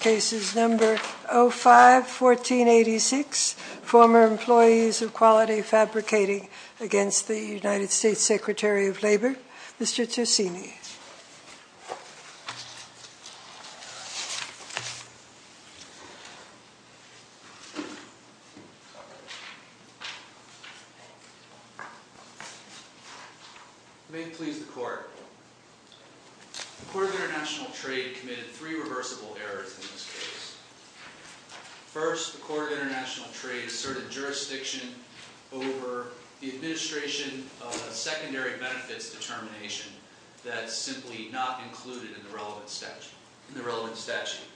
Cases No. 05-1486, Former Employees of Quality Fabricating against the United States Government. United States Secretary of Labor, Mr. Tersini. May it please the Court. The Court of International Trade committed three reversible errors in this case. First, the Court of International Trade asserted jurisdiction over the administration of a secondary benefits determination that's simply not included in the relevant statute.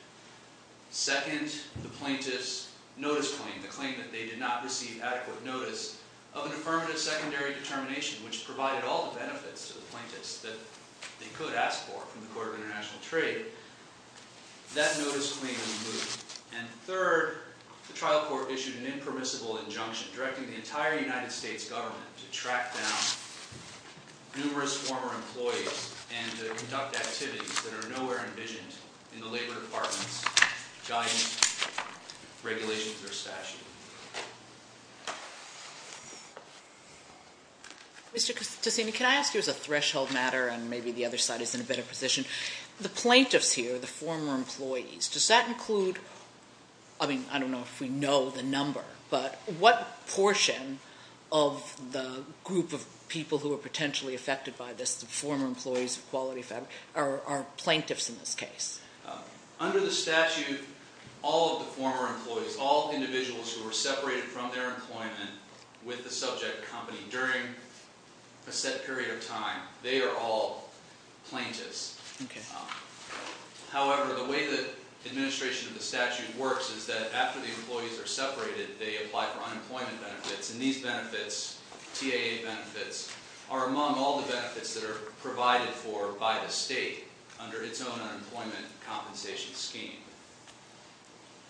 Second, the plaintiff's notice claim, the claim that they did not receive adequate notice of an affirmative secondary determination which provided all the benefits to the plaintiffs that they could ask for from the Court of International Trade, that notice claim was removed. And third, the trial court issued an impermissible injunction directing the entire United States government to track down numerous former employees and to conduct activities that are nowhere envisioned in the Labor Department's guidance, regulations, or statute. Mr. Tersini, can I ask you as a threshold matter, and maybe the other side is in a better position, the plaintiffs here, the former employees, does that include, I mean, I don't know if we know the number, but what portion of the group of people who are potentially affected by this, the former employees of Quality Fabricating, are plaintiffs in this case? Under the statute, all of the former employees, all individuals who were separated from their employment with the subject company during a set period of time, they are all plaintiffs. However, the way the administration of the statute works is that after the employees are separated, they apply for unemployment benefits. And these benefits, TAA benefits, are among all the benefits that are provided for by the state under its own unemployment compensation scheme.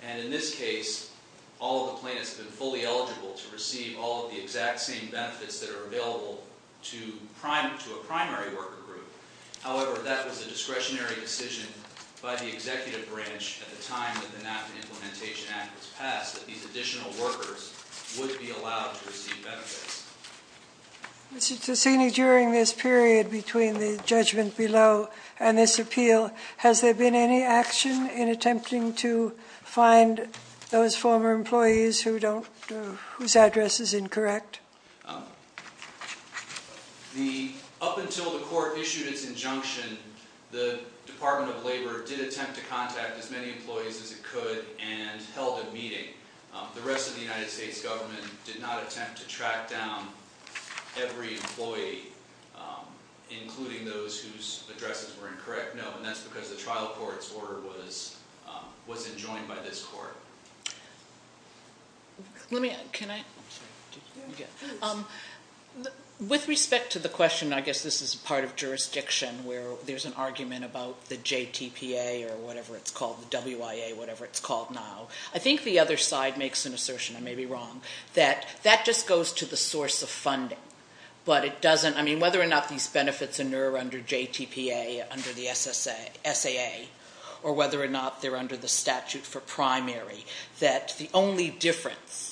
And in this case, all of the plaintiffs have been fully eligible to receive all of the exact same benefits that are available to a primary worker group. However, that was a discretionary decision by the executive branch at the time that the NAFTA Implementation Act was passed, that these additional workers would be allowed to receive benefits. Mr. Tersini, during this period between the judgment below and this appeal, has there been any action in attempting to find those former employees whose address is incorrect? Up until the court issued its injunction, the Department of Labor did attempt to contact as many employees as it could and held a meeting. The rest of the United States government did not attempt to track down every employee, including those whose addresses were incorrect, no. And that's because the trial court's order was enjoined by this court. With respect to the question, I guess this is part of jurisdiction, where there's an argument about the JTPA or whatever it's called, the WIA, whatever it's called now, I think the other side makes an assertion, I may be wrong, that that just goes to the source of funding. But it doesn't, I mean, whether or not these benefits are under JTPA, under the SAA, or whether or not they're under the statute for primary, that the only difference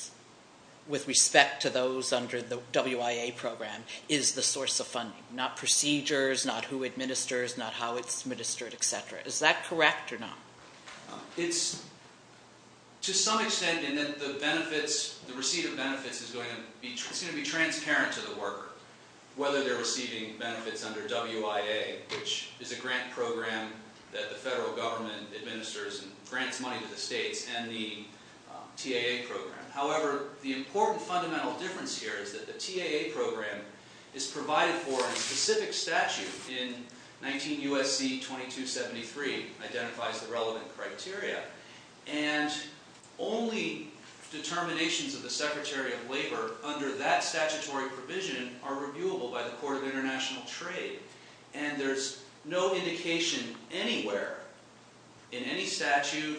with respect to those under the WIA program is the source of funding, not procedures, not who administers, not how it's administered, etc. Is that correct or not? It's, to some extent, in that the benefits, the receipt of benefits, is going to be transparent to the worker, whether they're receiving benefits under WIA, which is a grant program that the federal government administers and grants money to the states, and the TAA program. However, the important fundamental difference here is that the TAA program is provided for in a specific statute in 19 U.S.C. 2273, identifies the relevant criteria, and only determinations of the Secretary of Labor under that statutory provision are reviewable by the Court of International Trade. And there's no indication anywhere, in any statute,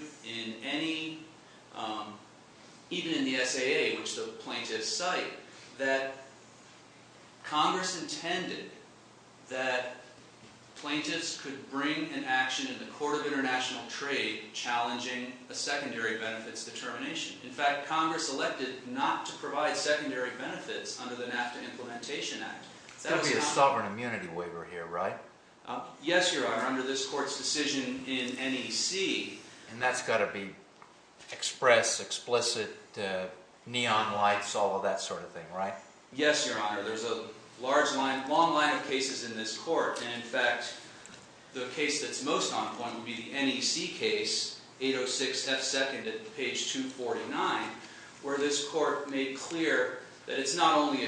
even in the SAA, which the plaintiffs cite, that Congress intended that plaintiffs could bring an action in the Court of International Trade challenging a secondary benefits determination. In fact, Congress elected not to provide secondary benefits under the NAFTA Implementation Act. There's got to be a sovereign immunity waiver here, right? Yes, Your Honor. Under this Court's decision in NEC... And that's got to be express, explicit, neon lights, all of that sort of thing, right? Yes, Your Honor. There's a long line of cases in this Court. And in fact, the case that's most on point would be the NEC case, 806 F. 2nd at page 249, where this Court made clear that it's not only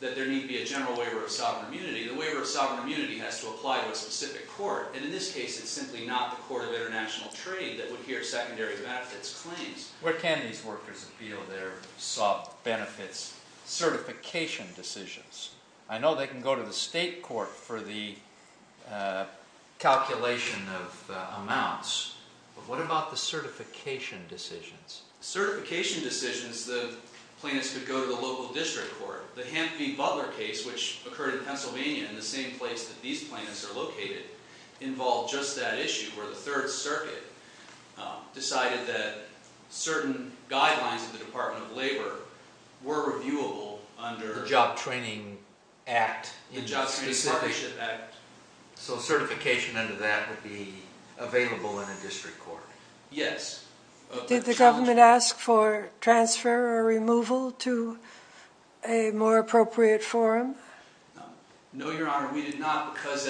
that there need be a general waiver of sovereign immunity, the waiver of sovereign immunity has to apply to a specific court. And in this case, it's simply not the Court of International Trade that would hear secondary benefits claims. Where can these workers appeal their benefits certification decisions? I know they can go to the state court for the calculation of amounts, but what about the certification decisions? Certification decisions, the plaintiffs could go to the local district court. The Hampton v. Butler case, which occurred in Pennsylvania in the same place that these plaintiffs are located, involved just that issue, where the Third Circuit decided that certain guidelines of the Department of Labor were reviewable under... The Job Training Act. The Job Training Partnership Act. So certification under that would be available in a district court? Yes. Did the government ask for transfer or removal to a more appropriate forum? No, Your Honor, we did not, because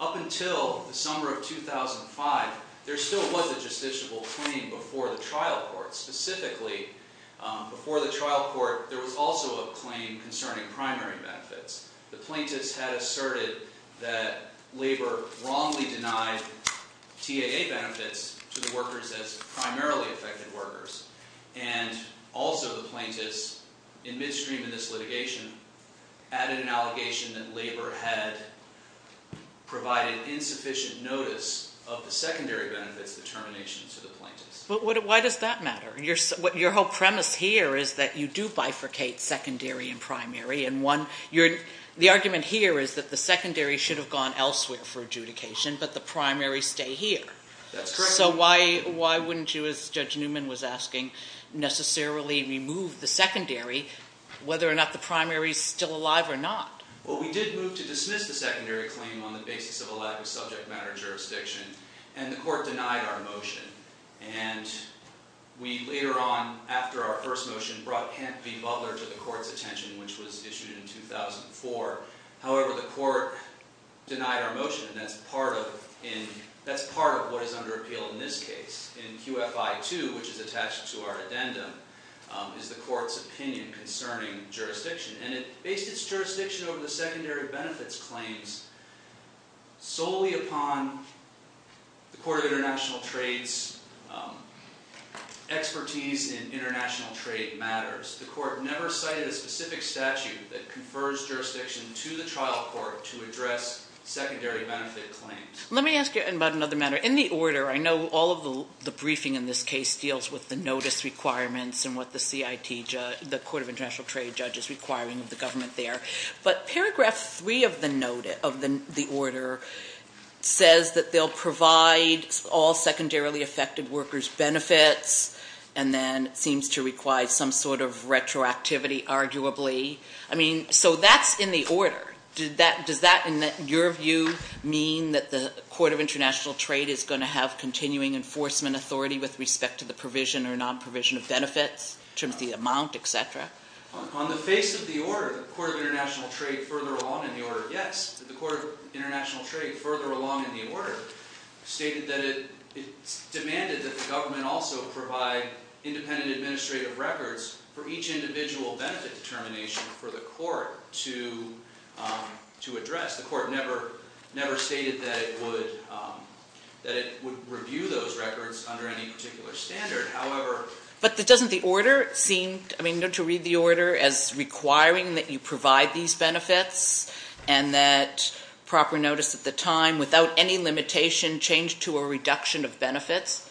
up until the summer of 2005, there still was a justiciable claim before the trial court. Specifically, before the trial court, there was also a claim concerning primary benefits. The plaintiffs had asserted that labor wrongly denied TAA benefits to the workers as primarily affected workers. And also the plaintiffs, in midstream in this litigation, added an allegation that labor had provided insufficient notice of the secondary benefits determination to the plaintiffs. Why does that matter? Your whole premise here is that you do bifurcate secondary and primary. The argument here is that the secondary should have gone elsewhere for adjudication, but the primary stay here. That's correct. So why wouldn't you, as Judge Newman was asking, necessarily remove the secondary, whether or not the primary is still alive or not? Well, we did move to dismiss the secondary claim on the basis of a lack of subject matter jurisdiction, and the court denied our motion. And we, later on, after our first motion, brought Kent v. Butler to the court's attention, which was issued in 2004. However, the court denied our motion, and that's part of what is under appeal in this case. In QFI-2, which is attached to our addendum, is the court's opinion concerning jurisdiction. And it based its jurisdiction over the secondary benefits claims solely upon the Court of International Trade's expertise in international trade matters. The court never cited a specific statute that confers jurisdiction to the trial court to address secondary benefit claims. Let me ask you about another matter. In the order, I know all of the briefing in this case deals with the notice requirements and what the Court of International Trade judge is requiring of the government there. But paragraph three of the order says that they'll provide all secondarily affected workers benefits. And then it seems to require some sort of retroactivity, arguably. Does that, in your view, mean that the Court of International Trade is going to have continuing enforcement authority with respect to the provision or non-provision of benefits, in terms of the amount, etc.? On the face of the order, the Court of International Trade, further along in the order, yes. The Court of International Trade, further along in the order, stated that it's demanded that the government also provide independent administrative records for each individual benefit determination for the court to address. The court never stated that it would review those records under any particular standard. However... But doesn't the order seem, I mean, don't you read the order as requiring that you provide these benefits and that proper notice at the time, without any limitation, changed to a reduction of benefits?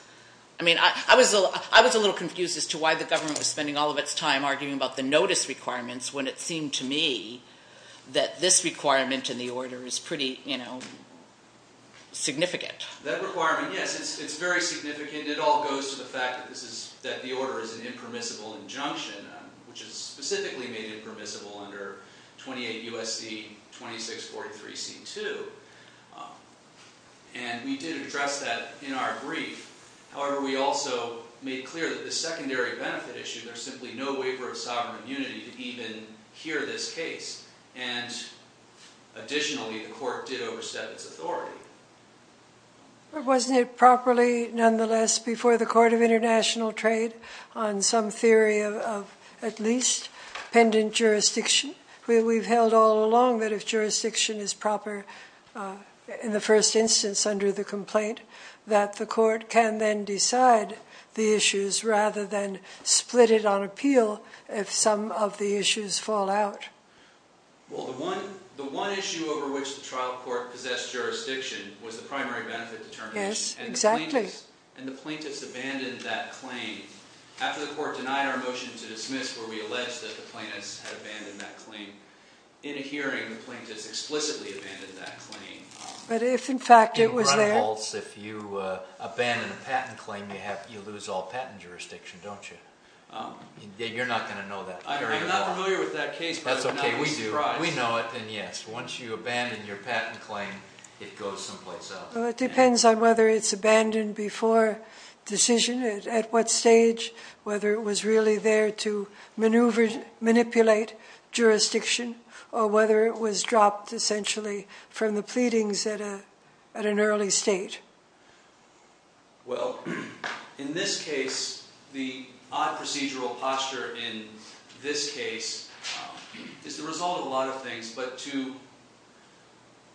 I mean, I was a little confused as to why the government was spending all of its time arguing about the notice requirements when it seemed to me that this requirement in the order is pretty, you know, significant. That requirement, yes, it's very significant. It all goes to the fact that the order is an impermissible injunction, which is specifically made impermissible under 28 U.S.C. 2643 C.2. And we did address that in our brief. However, we also made clear that the secondary benefit issue, there's simply no waiver of sovereign immunity to even hear this case. And additionally, the court did overstep its authority. But wasn't it properly, nonetheless, before the Court of International Trade, on some theory of at least pendant jurisdiction? We've held all along that if jurisdiction is proper in the first instance under the complaint, that the court can then decide the issues rather than split it on appeal if some of the issues fall out. Well, the one issue over which the trial court possessed jurisdiction was the primary benefit determination. Yes, exactly. And the plaintiffs abandoned that claim. After the court denied our motion to dismiss where we alleged that the plaintiffs had abandoned that claim, in a hearing, the plaintiffs explicitly abandoned that claim. But if, in fact, it was there? If you run a false, if you abandon a patent claim, you lose all patent jurisdiction, don't you? You're not going to know that. I'm not familiar with that case, but I'm not surprised. That's okay, we do. We know it. And yes, once you abandon your patent claim, it goes someplace else. Well, it depends on whether it's abandoned before decision, at what stage, whether it was really there to manipulate jurisdiction, or whether it was dropped, essentially, from the pleadings at an early stage. Well, in this case, the odd procedural posture in this case is the result of a lot of things. But to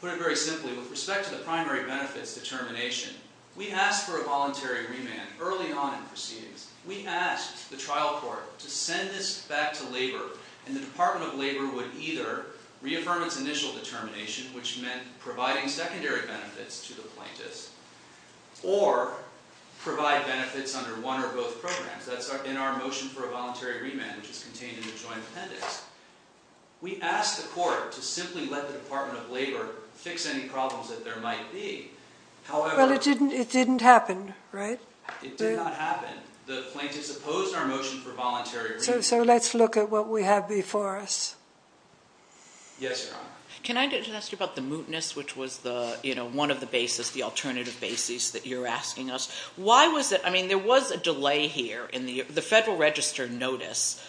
put it very simply, with respect to the primary benefits determination, we asked for a voluntary remand early on in proceedings. We asked the trial court to send this back to labor, and the Department of Labor would either reaffirm its initial determination, which meant providing secondary benefits to the plaintiffs, or provide benefits under one or both programs. That's in our motion for a voluntary remand, which is contained in the joint appendix. We asked the court to simply let the Department of Labor fix any problems that there might be. Well, it didn't happen, right? It did not happen. The plaintiffs opposed our motion for voluntary remand. So let's look at what we have before us. Yes, Your Honor. Can I just ask you about the mootness, which was one of the basis, the alternative basis that you're asking us? Why was it? I mean, there was a delay here in the Federal Register notice.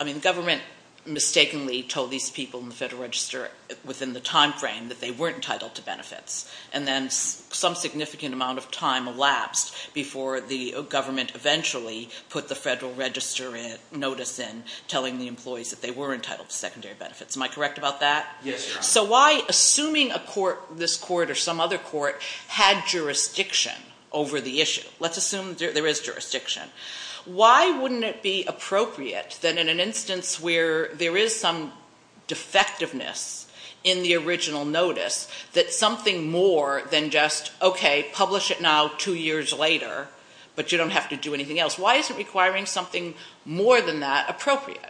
I mean, the government mistakenly told these people in the Federal Register within the timeframe that they weren't entitled to benefits, and then some significant amount of time elapsed before the government eventually put the Federal Register notice in, telling the employees that they were entitled to secondary benefits. Am I correct about that? Yes, Your Honor. So why, assuming a court, this court or some other court, had jurisdiction over the issue, let's assume there is jurisdiction, why wouldn't it be appropriate that in an instance where there is some defectiveness in the original notice, that something more than just, okay, publish it now two years later, but you don't have to do anything else, why is it requiring something more than that appropriate?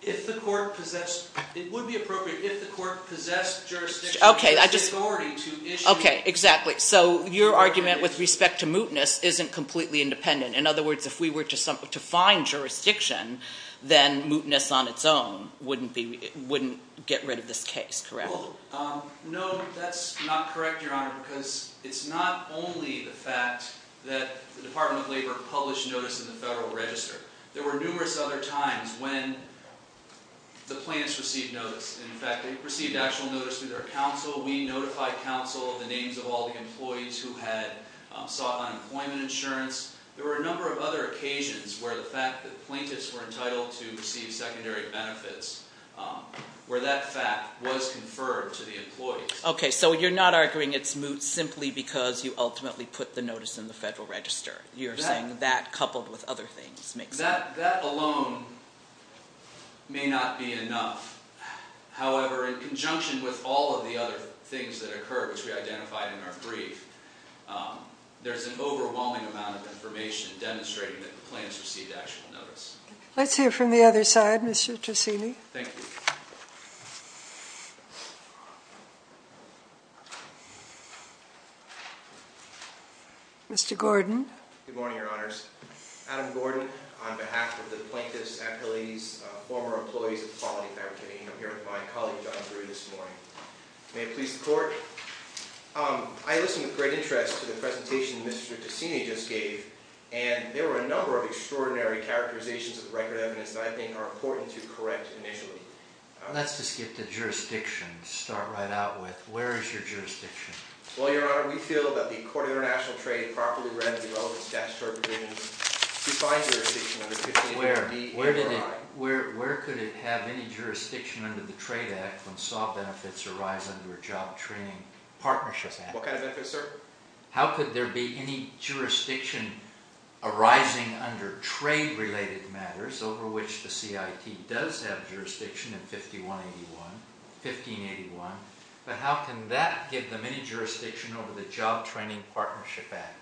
If the court possessed, it would be appropriate if the court possessed jurisdiction. Okay, I just, okay, exactly. So your argument with respect to mootness isn't completely independent. In other words, if we were to find jurisdiction, then mootness on its own wouldn't get rid of this case, correct? No, that's not correct, Your Honor, because it's not only the fact that the Department of Labor published notice in the Federal Register. There were numerous other times when the plaintiffs received notice. In fact, they received actual notice through their counsel. We notified counsel of the names of all the employees who had sought unemployment insurance. There were a number of other occasions where the fact that plaintiffs were entitled to receive secondary benefits, where that fact was conferred to the employees. Okay, so you're not arguing it's moot simply because you ultimately put the notice in the Federal Register. You're saying that coupled with other things makes sense. That alone may not be enough. However, in conjunction with all of the other things that occurred, which we identified in our brief, there's an overwhelming amount of information demonstrating that the plaintiffs received actual notice. Let's hear from the other side, Mr. Tresini. Thank you. Mr. Gordon. Good morning, Your Honors. Adam Gordon, on behalf of the Plaintiffs' Appellees, former employees of the Quality Fair Committee, and I'm here with my colleague, John Drew, this morning. May it please the Court. I listened with great interest to the presentation Mr. Tresini just gave, and there were a number of extraordinary characterizations of the record of evidence that I think are important to correct initially. Let's just get the jurisdiction to start right out with. Where is your jurisdiction? Well, Your Honor, we feel that the Court of International Trade properly read the relevant statutory provisions to find jurisdiction under 1581D. Where could it have any jurisdiction under the Trade Act when soft benefits arise under a Job Training Partnership Act? What kind of benefits, sir? How could there be any jurisdiction arising under trade-related matters, over which the CIT does have jurisdiction in 1581, but how can that give them any jurisdiction over the Job Training Partnership Act?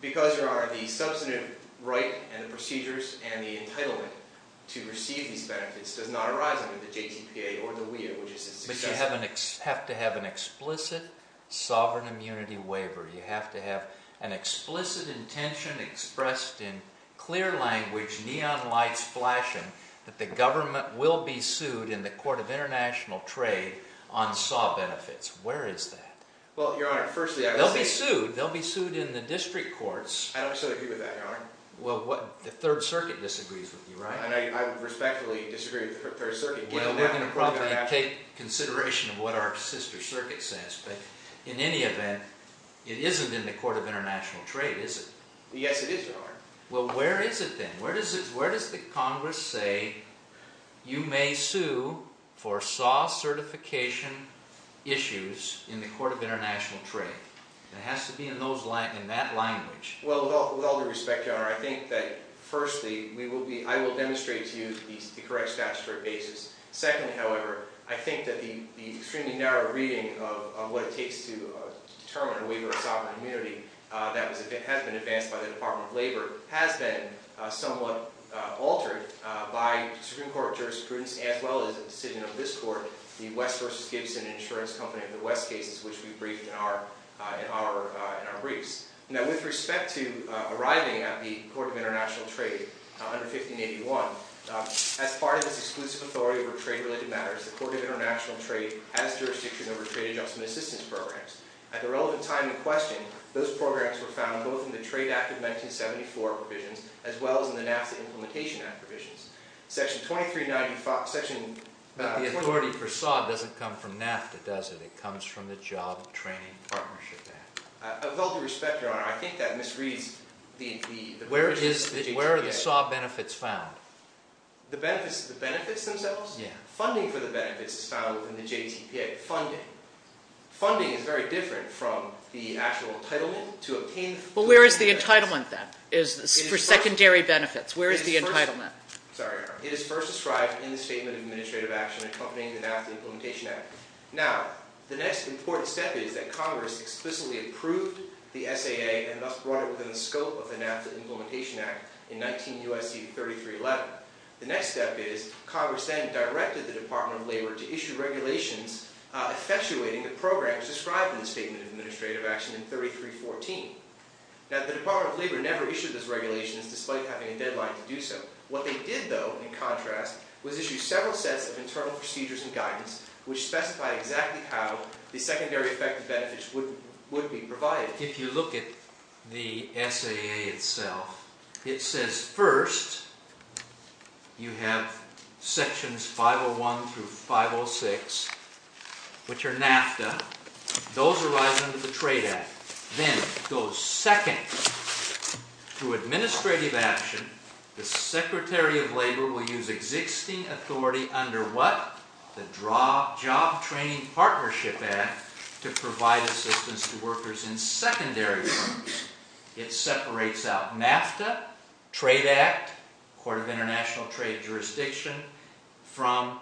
Because Your Honor, the substantive right and the procedures and the entitlement to receive these benefits does not arise under the JTPA or the WIOA, which is its successor. But you have to have an explicit sovereign immunity waiver. You have to have an explicit intention expressed in clear language, neon lights flashing, that the government will be sued in the Court of International Trade on soft benefits. Where is that? Well, Your Honor, firstly, I would say... They'll be sued. They'll be sued in the district courts. I don't sort of agree with that, Your Honor. Well, the Third Circuit disagrees with you, right? I respectfully disagree with the Third Circuit. Well, we're going to probably take consideration of what our sister circuit says, but in any event, it isn't in the Court of International Trade, is it? Yes, it is, Your Honor. Well, where is it then? Where does the Congress say you may sue for SAW certification issues in the Court of International Trade? It has to be in that language. Well, with all due respect, Your Honor, I think that, firstly, I will demonstrate to you the correct statutory basis. Secondly, however, I think that the extremely narrow reading of what it takes to determine a waiver of sovereign immunity that has been advanced by the Department of Labor has been somewhat altered by the Supreme Court of Jurisprudence as well as the decision of this Court, the West v. Gibson Insurance Company in the West cases, which we briefed in our briefs. Now, with respect to arriving at the Court of International Trade under 1581, as part of this exclusive authority over trade-related matters, the Court of International Trade has jurisdiction over trade adjustment assistance programs. At the relevant time in question, those programs were found both in the Trade Act of 1974 provisions as well as in the NAFTA Implementation Act provisions. Section 2395... But the authority for SAW doesn't come from NAFTA, does it? It comes from the Job Training Partnership Act. With all due respect, Your Honor, I think that misreads the... Where are the SAW benefits found? The benefits themselves? Yeah. Funding for the benefits is found within the JTPA. Funding is very different from the actual entitlement to obtain... Well, where is the entitlement, then, for secondary benefits? Where is the entitlement? Sorry, Your Honor. It is first described in the Statement of Administrative Action accompanying the NAFTA Implementation Act. Now, the next important step is that Congress explicitly approved the SAA and thus brought it within the scope of the NAFTA Implementation Act in 19 U.S.C. 3311. The next step is Congress then directed the Department of Labor to issue regulations effectuating the programs described in the Statement of Administrative Action in 3314. Now, the Department of Labor never issued those regulations despite having a deadline to do so. What they did, though, in contrast, was issue several sets of internal procedures and guidance which specified exactly how the secondary effective benefits would be provided. If you look at the SAA itself, it says, first, you have Sections 501 through 506, which are NAFTA. Those arise under the Trade Act. Then it goes, second, through Administrative Action, the Secretary of Labor will use existing authority under what? The Job Training Partnership Act to provide assistance to workers in secondary firms. It separates out NAFTA, Trade Act, Court of International Trade Jurisdiction, from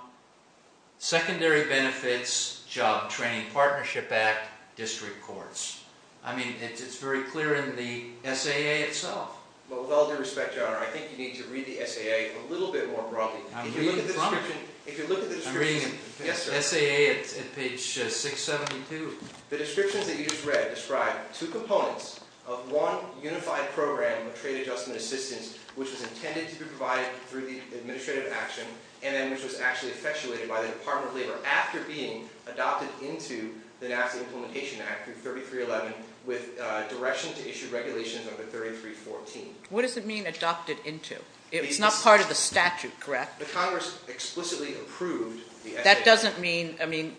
Secondary Benefits, Job Training Partnership Act, District Courts. I mean, it's very clear in the SAA itself. Well, with all due respect, Your Honor, I think you need to read the SAA a little bit more broadly. I'm reading from it. If you look at the description. I'm reading SAA at page 672. The descriptions that you just read describe two components of one unified program of trade adjustment assistance which was intended to be provided through the Administrative Action and then which was actually effectuated by the Department of Labor after being adopted into the NAFTA Implementation Act through 3311 with direction to issue regulations under 3314. What does it mean, adopted into? It's not part of the statute, correct? The Congress explicitly approved the SAA. That doesn't mean, I mean,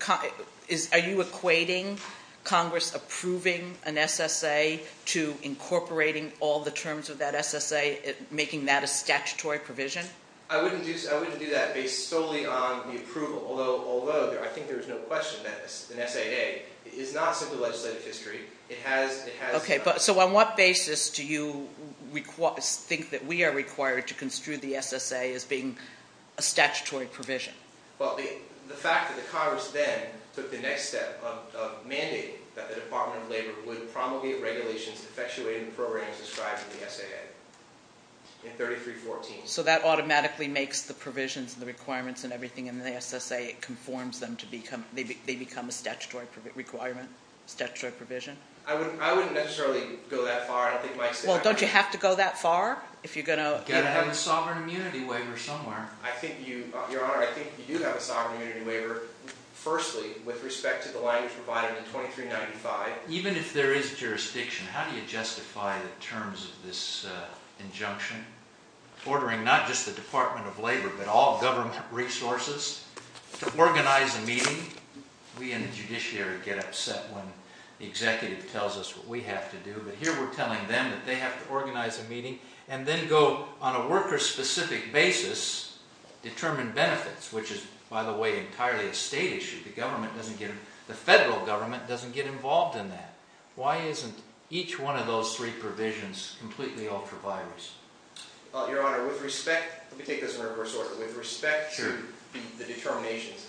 are you equating Congress approving an SSA to incorporating all the terms of that SSA, making that a statutory provision? I wouldn't do that based solely on the approval, although I think there is no question that an SAA is not simply legislative history. It has to be done. Okay. So on what basis do you think that we are required to construe the SSA as being a statutory provision? Well, the fact that the Congress then took the next step of mandating that the Department of Labor would promulgate regulations to effectuate the programs described in the SAA in 3314. So that automatically makes the provisions and the requirements and everything in the SSA, it conforms them to become, they become a statutory requirement, statutory provision? I wouldn't necessarily go that far. Well, don't you have to go that far if you're going to? You've got to have a sovereign immunity waiver somewhere. Your Honor, I think you do have a sovereign immunity waiver, firstly, with respect to the language provided in 2395. Even if there is jurisdiction, how do you justify the terms of this injunction, ordering not just the Department of Labor but all government resources to organize a meeting? We in the judiciary get upset when the executive tells us what we have to do, but here we're telling them that they have to organize a meeting and then go on a worker-specific basis, determine benefits, which is, by the way, entirely a state issue. The government doesn't get, the federal government doesn't get involved in that. Why isn't each one of those three provisions completely ultra-virus? Your Honor, with respect, let me take this in reverse order. With respect to the determinations,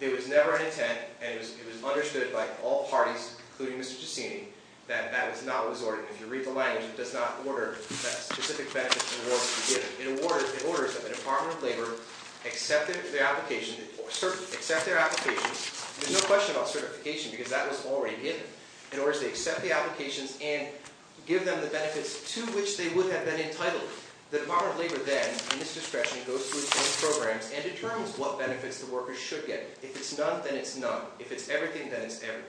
there was never an intent, and it was understood by all parties, including Mr. Giussini, that that was not what was ordered. If you read the language, it does not order that specific benefits and awards to be given. It orders that the Department of Labor accept their applications. There's no question about certification because that was already given. In other words, they accept the applications and give them the benefits to which they would have been entitled. The Department of Labor then, in this discretion, goes through the programs and determines what benefits the workers should get. If it's none, then it's none. If it's everything, then it's everything.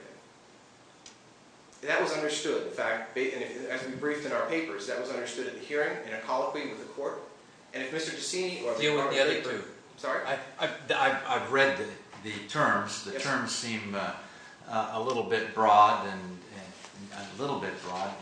That was understood, in fact, as we briefed in our papers. That was understood at the hearing, in a colloquy with the court. And if Mr. Giussini or the Department of Labor... Deal with the other two. Sorry? I've read the terms. The terms seem a little bit broad and a little bit broad.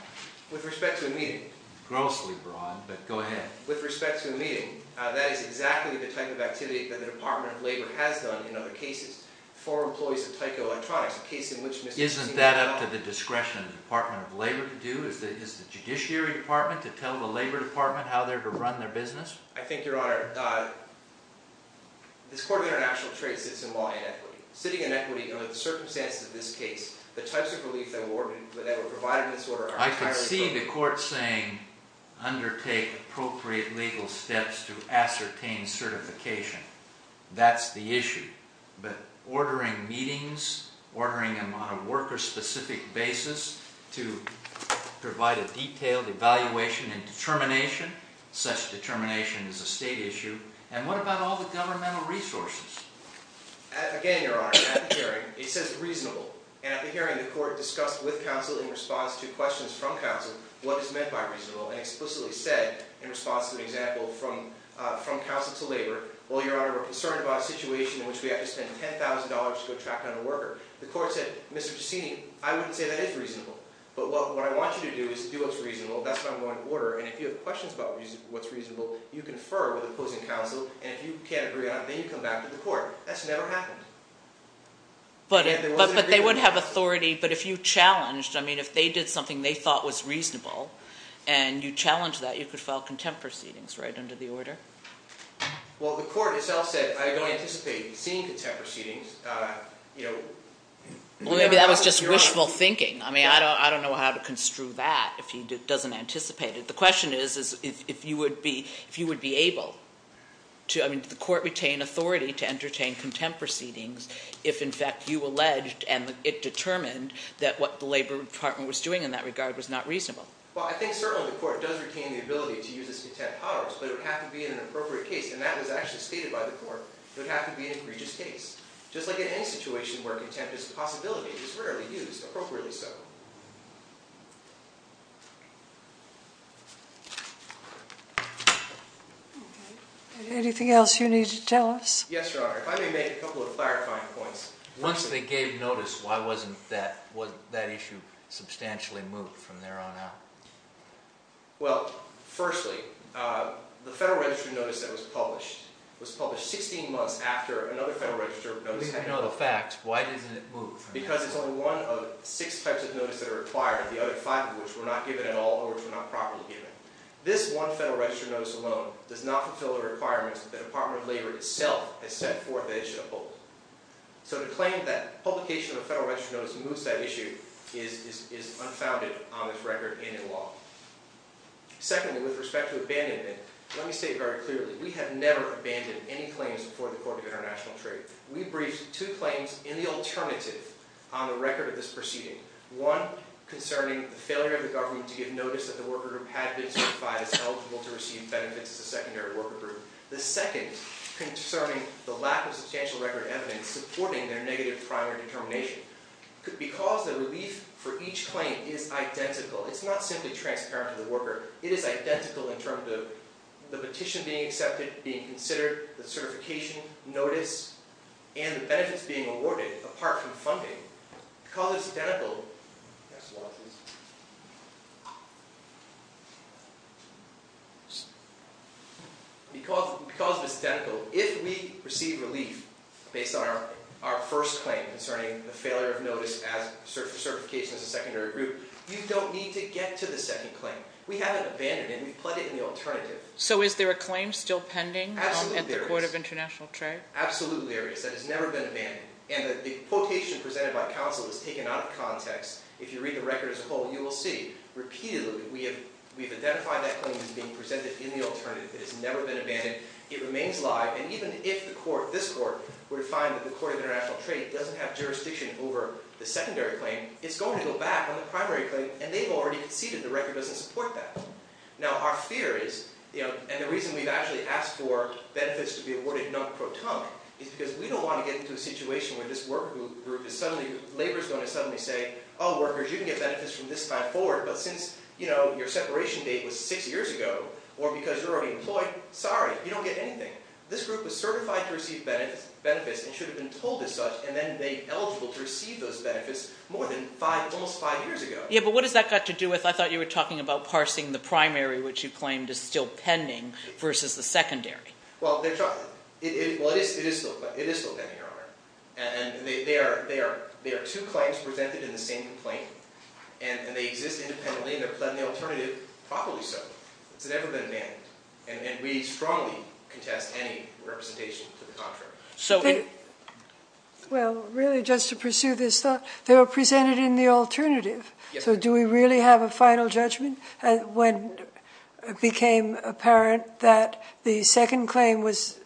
With respect to a meeting. Grossly broad, but go ahead. With respect to a meeting, that is exactly the type of activity that the Department of Labor has done in other cases for employees of Tyco Electronics, a case in which Mr. Giussini... Isn't that up to the discretion of the Department of Labor to do? Is the Judiciary Department to tell the Labor Department how they're to run their business? I think, Your Honor, this Court of International Trade sits in law inequity. Sitting inequity under the circumstances of this case. The types of relief that were provided in this order are entirely... I could see the court saying, undertake appropriate legal steps to ascertain certification. That's the issue. But ordering meetings, ordering them on a worker-specific basis, to provide a detailed evaluation and determination, such determination is a state issue. And what about all the governmental resources? Again, Your Honor, at the hearing, it says reasonable. And at the hearing, the court discussed with counsel, in response to questions from counsel, what is meant by reasonable, and explicitly said, in response to an example, from counsel to labor, well, Your Honor, we're concerned about a situation in which we have to spend $10,000 to attract another worker. The court said, Mr. Giussini, I wouldn't say that is reasonable. But what I want you to do is do what's reasonable. That's what I'm going to order. And if you have questions about what's reasonable, you confer with opposing counsel. And if you can't agree on it, then you come back to the court. That's never happened. But they would have authority. But if you challenged, I mean, if they did something they thought was reasonable, and you challenged that, you could file contempt proceedings, right, under the order? Well, the court itself said, I don't anticipate seeing contempt proceedings. Well, maybe that was just wishful thinking. I mean, I don't know how to construe that, if he doesn't anticipate it. The question is, if you would be able to, I mean, did the court retain authority to entertain contempt proceedings, if, in fact, you alleged, and it determined, that what the Labor Department was doing in that regard was not reasonable? Well, I think, certainly, the court does retain the ability to use its contempt powers. But it would have to be in an appropriate case. And that was actually stated by the court. It would have to be an egregious case. Just like in any situation where contempt is a possibility, it is rarely used appropriately so. Anything else you need to tell us? Yes, Your Honor. If I may make a couple of clarifying points. Once they gave notice, why wasn't that issue substantially moved from there on out? Well, firstly, the Federal Register notice that was published, was published 16 months after another Federal Register notice had been published. At least I know the facts. Why didn't it move from there? Because it's only one of six types of notice that are required, the other five of which were not given at all, or which were not properly given. This one Federal Register notice alone does not fulfill the requirements that the Department of Labor itself has set forth that it should uphold. So to claim that publication of a Federal Register notice moves that issue is unfounded on this record and in law. Secondly, with respect to abandonment, let me say it very clearly. We have never abandoned any claims before the Court of International Trade. We briefed two claims in the alternative on the record of this proceeding. One concerning the failure of the government to give notice that the worker group had been certified as eligible to receive benefits as a secondary worker group. The second concerning the lack of substantial record evidence supporting their negative primary determination. Because the relief for each claim is identical, it's not simply transparent to the worker, it is identical in terms of the petition being accepted, being considered, the certification notice, and the benefits being awarded, apart from funding. Because it's identical, if we receive relief based on our first claim concerning the failure of notice as certification as a secondary group, you don't need to get to the second claim. We haven't abandoned it, and we've pledged it in the alternative. So is there a claim still pending at the Court of International Trade? Absolutely there is. That has never been abandoned. And the quotation presented by counsel is taken out of context. If you read the record as a whole, you will see repeatedly that we have identified that claim as being presented in the alternative. It has never been abandoned. It remains live. And even if this Court were to find that the Court of International Trade doesn't have jurisdiction over the secondary claim, it's going to go back on the primary claim, and they've already conceded the record doesn't support that. It's because we don't want to get into a situation where this labor group is suddenly going to say, oh, workers, you can get benefits from this time forward, but since your separation date was six years ago, or because you're already employed, sorry, you don't get anything. This group was certified to receive benefits and should have been told as such, and then made eligible to receive those benefits more than almost five years ago. Yeah, but what has that got to do with, I thought you were talking about Well, it is still pending, Your Honor. And there are two claims presented in the same complaint, and they exist independently, and they're presented in the alternative properly so. It's never been abandoned. And we strongly contest any representation to the contrary. Well, really, just to pursue this thought, they were presented in the alternative. So do we really have a final judgment when it became apparent that the second claim was,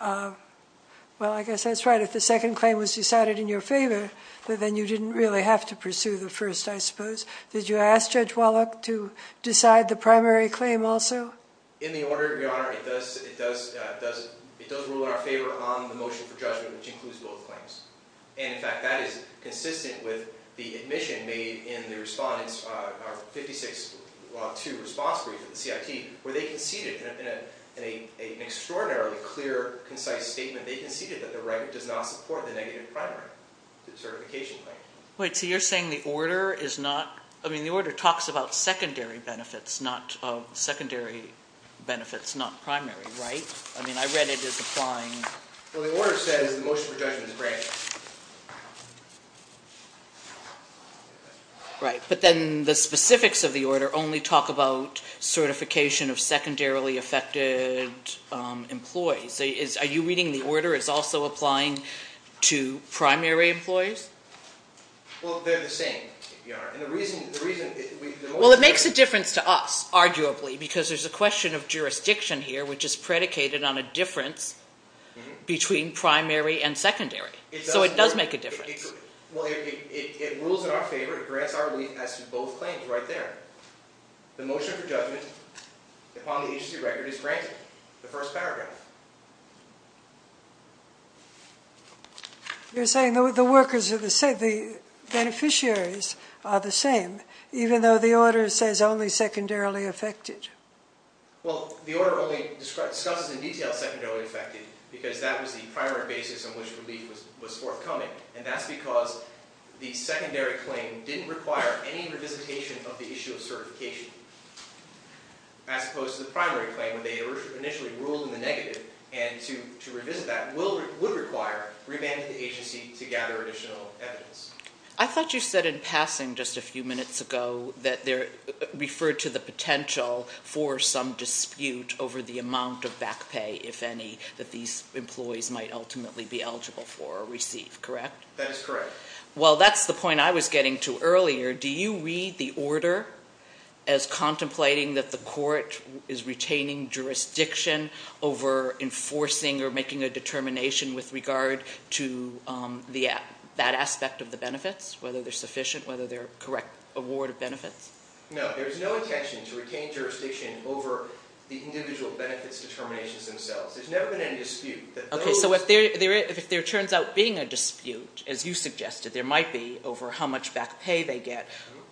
well, I guess that's right. If the second claim was decided in your favor, then you didn't really have to pursue the first, I suppose. Did you ask Judge Wallach to decide the primary claim also? In the order, Your Honor, it does rule in our favor on the motion for judgment, which includes both claims. And, in fact, that is consistent with the admission made in the respondents, our 56-2 response brief at the CIT, where they conceded, in an extraordinarily clear, concise statement, they conceded that the right does not support the negative primary certification claim. Wait, so you're saying the order is not, I mean, the order talks about secondary benefits, not primary, right? I mean, I read it as applying Well, the order says the motion for judgment is granted. Right. But then the specifics of the order only talk about certification of secondarily affected employees. Are you reading the order as also applying to primary employees? Well, they're the same, Your Honor. Well, it makes a difference to us, arguably, because there's a question of jurisdiction here, which is predicated on a difference between primary and secondary. So it does make a difference. Well, it rules in our favor. It grants our relief as to both claims right there. The motion for judgment upon the agency record is granted, the first paragraph. You're saying the beneficiaries are the same, even though the order says only secondarily affected. Well, the order only discusses in detail secondarily affected because that was the primary basis on which relief was forthcoming, and that's because the secondary claim didn't require any revisitation of the issue of certification, as opposed to the primary claim where they initially ruled in the negative, and to revisit that would require remanding the agency to gather additional evidence. I thought you said in passing just a few minutes ago that there referred to the potential for some dispute over the amount of back pay, if any, that these employees might ultimately be eligible for or receive, correct? That is correct. Well, that's the point I was getting to earlier. Do you read the order as contemplating that the court is retaining jurisdiction over enforcing or making a determination with regard to that aspect of the benefits, whether they're sufficient, whether they're a correct award of benefits? No, there's no intention to retain jurisdiction over the individual benefits determinations themselves. There's never been any dispute. Okay, so if there turns out being a dispute, as you suggested there might be, over how much back pay they get,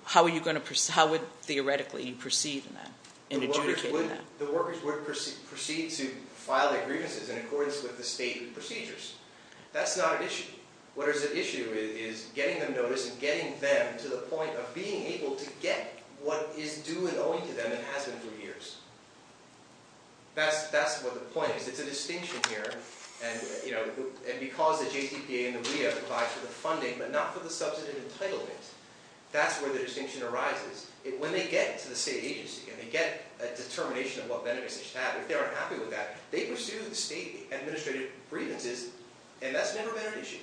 how would, theoretically, you proceed in adjudicating that? The workers would proceed to file their grievances in accordance with the stated procedures. That's not an issue. What is an issue is getting them noticed and getting them to the point of being able to get what is due and owing to them and has been for years. That's what the point is. It's a distinction here. And because the JCPA and the WEA apply for the funding but not for the substantive entitlement, that's where the distinction arises. When they get to the state agency and they get a determination of what benefits they should have, if they aren't happy with that, they pursue the state administrative grievances, and that's never been an issue.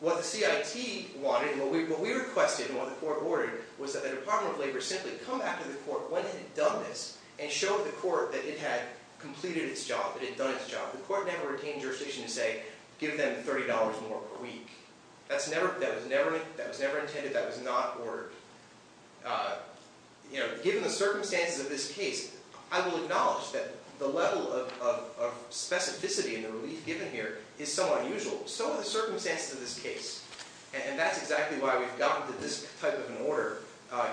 What the CIT wanted, what we requested and what the court ordered, was that the Department of Labor simply come back to the court when it had done this and show the court that it had completed its job, it had done its job. The court never retained jurisdiction to say, give them $30 more per week. That was never intended. That was not ordered. Given the circumstances of this case, I will acknowledge that the level of specificity and the relief given here is somewhat unusual. So are the circumstances of this case. And that's exactly why we've gotten to this type of an order,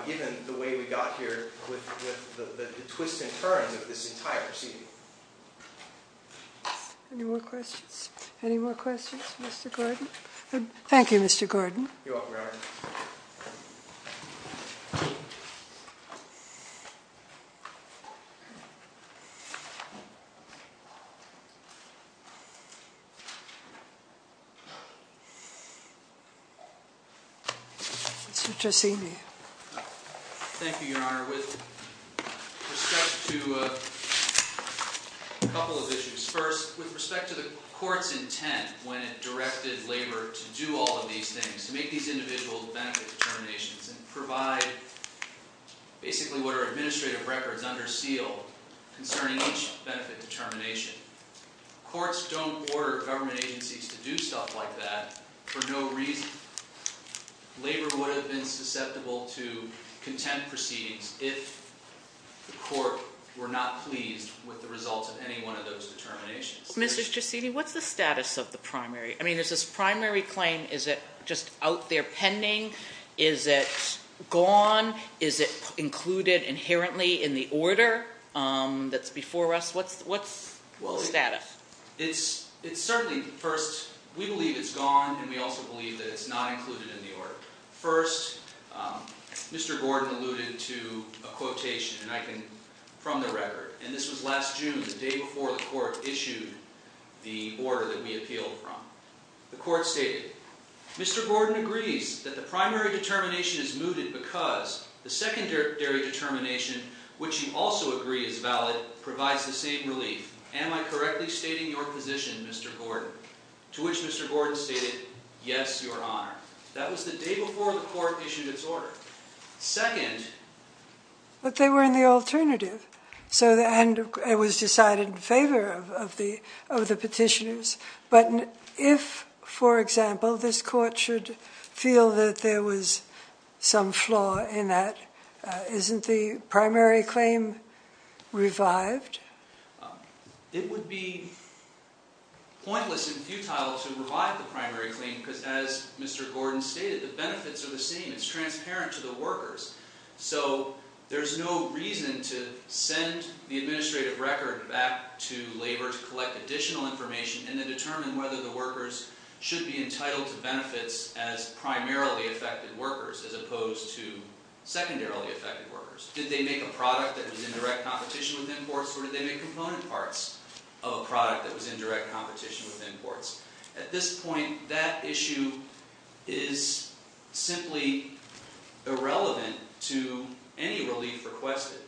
given the way we got here with the twists and turns of this entire proceeding. Any more questions? Any more questions, Mr. Gordon? Thank you, Mr. Gordon. You're welcome, Your Honor. Mr. Tresini. Thank you, Your Honor. With respect to a couple of issues. First, with respect to the court's intent when it directed labor to do all of these things, to make these individual benefit determinations and provide basically what are administrative records under seal concerning each benefit determination. Courts don't order government agencies to do stuff like that for no reason. Labor would have been susceptible to contempt proceedings if the court were not pleased with the results of any one of those determinations. Mr. Tresini, what's the status of the primary? I mean, there's this primary claim. Is it just out there pending? Is it gone? Is it included inherently in the order that's before us? What's the status? It's certainly, first, we believe it's gone, and we also believe that it's not included in the order. First, Mr. Gordon alluded to a quotation from the record, and this was last June, the day before the court issued the order that we appealed from. The court stated, Mr. Gordon agrees that the primary determination is mooted because the secondary determination, which you also agree is valid, provides the same relief. Am I correctly stating your position, Mr. Gordon? To which Mr. Gordon stated, yes, your honor. That was the day before the court issued its order. Second. But they were in the alternative, and it was decided in favor of the petitioners. But if, for example, this court should feel that there was some flaw in that, isn't the primary claim revived? It would be pointless and futile to revive the primary claim, because as Mr. Gordon stated, the benefits are the same. It's transparent to the workers. So there's no reason to send the administrative record back to labor to collect additional information and then determine whether the workers should be entitled to benefits as primarily affected workers as opposed to secondarily affected workers. Did they make a product that was in direct competition with imports, or did they make component parts of a product that was in direct competition with imports? At this point, that issue is simply irrelevant to any relief requested.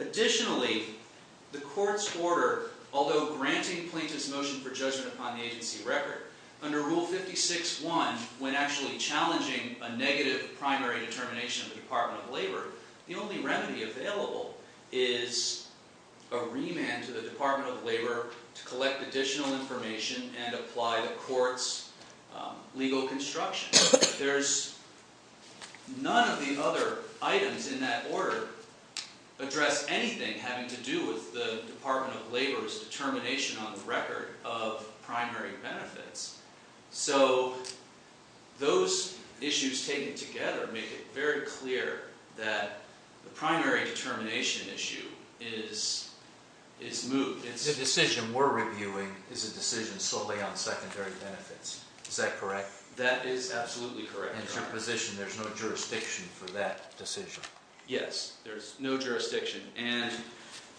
Additionally, the court's order, although granting plaintiff's motion for judgment upon the agency record, under Rule 56-1, when actually challenging a negative primary determination of the Department of Labor, the only remedy available is a remand to the Department of Labor to collect additional information and apply the court's legal construction. None of the other items in that order address anything having to do with the Department of Labor's determination on the record of primary benefits. So those issues taken together make it very clear that the primary determination issue is moved. The decision we're reviewing is a decision solely on secondary benefits. Is that correct? That is absolutely correct. In your position, there's no jurisdiction for that decision? Yes, there's no jurisdiction.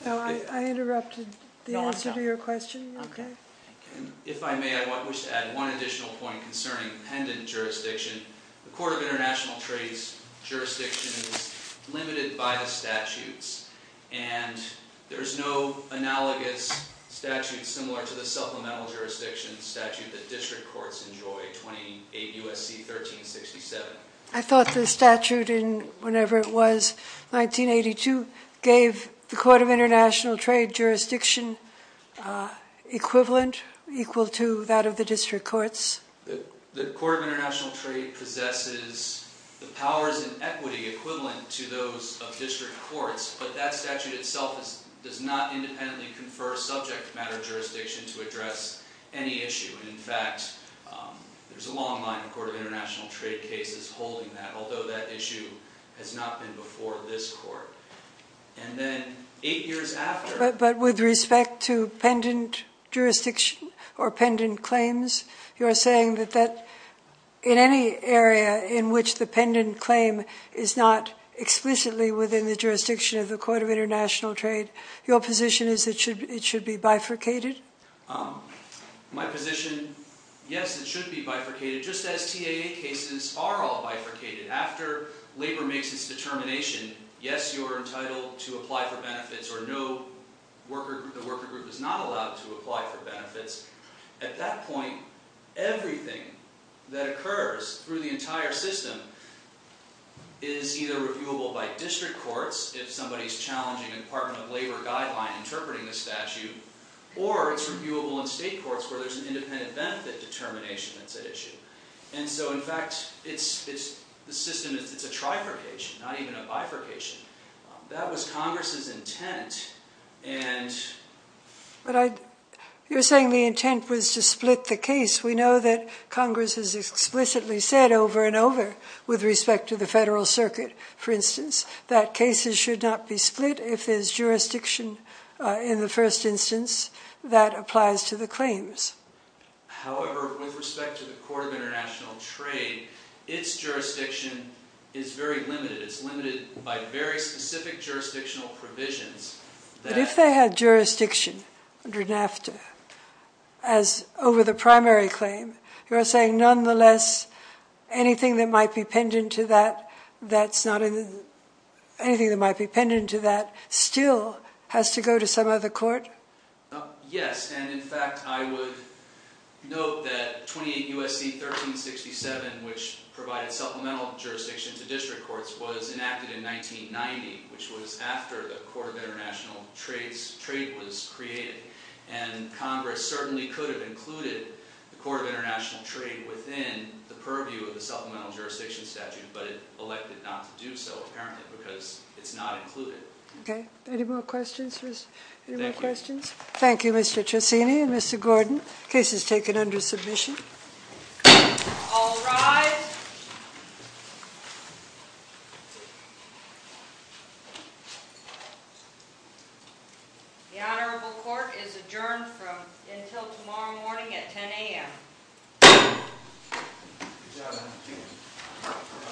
I interrupted the answer to your question. If I may, I wish to add one additional point concerning pendant jurisdiction. The Court of International Trade's jurisdiction is limited by the statutes, and there's no analogous statute similar to the supplemental jurisdiction statute that district courts enjoy, 28 U.S.C. 1367. I thought the statute in, whenever it was, 1982, gave the Court of International Trade jurisdiction equivalent, equal to that of the district courts. The Court of International Trade possesses the powers and equity equivalent to those of district courts, but that statute itself does not independently confer subject matter jurisdiction to address any issue. In fact, there's a long line in the Court of International Trade cases holding that, although that issue has not been before this court. And then eight years after— But with respect to pendant jurisdiction or pendant claims, you're saying that in any area in which the pendant claim is not explicitly within the jurisdiction of the Court of International Trade, your position is it should be bifurcated? My position, yes, it should be bifurcated, just as TAA cases are all bifurcated. After labor makes its determination, yes, you're entitled to apply for benefits, or no, the worker group is not allowed to apply for benefits. At that point, everything that occurs through the entire system is either reviewable by district courts, if somebody's challenging a Department of Labor guideline interpreting the statute, or it's reviewable in state courts where there's an independent benefit determination that's at issue. And so, in fact, the system is a trifurcation, not even a bifurcation. That was Congress's intent, and— But you're saying the intent was to split the case. We know that Congress has explicitly said over and over, with respect to the Federal Circuit, for instance, that cases should not be split if there's jurisdiction in the first instance that applies to the claims. However, with respect to the Court of International Trade, its jurisdiction is very limited. It's limited by very specific jurisdictional provisions that— But if they had jurisdiction under NAFTA, as over the primary claim, you're saying, nonetheless, anything that might be pendant to that still has to go to some other court? Yes, and, in fact, I would note that 28 U.S.C. 1367, which provided supplemental jurisdiction to district courts, was enacted in 1990, which was after the Court of International Trade was created. And Congress certainly could have included the Court of International Trade within the purview of the supplemental jurisdiction statute, but it elected not to do so, apparently, because it's not included. Okay. Any more questions? Thank you. Any more questions? Thank you, Mr. Trissini and Mr. Gordon. Case is taken under submission. All rise. The Honorable Court is adjourned until tomorrow morning at 10 a.m.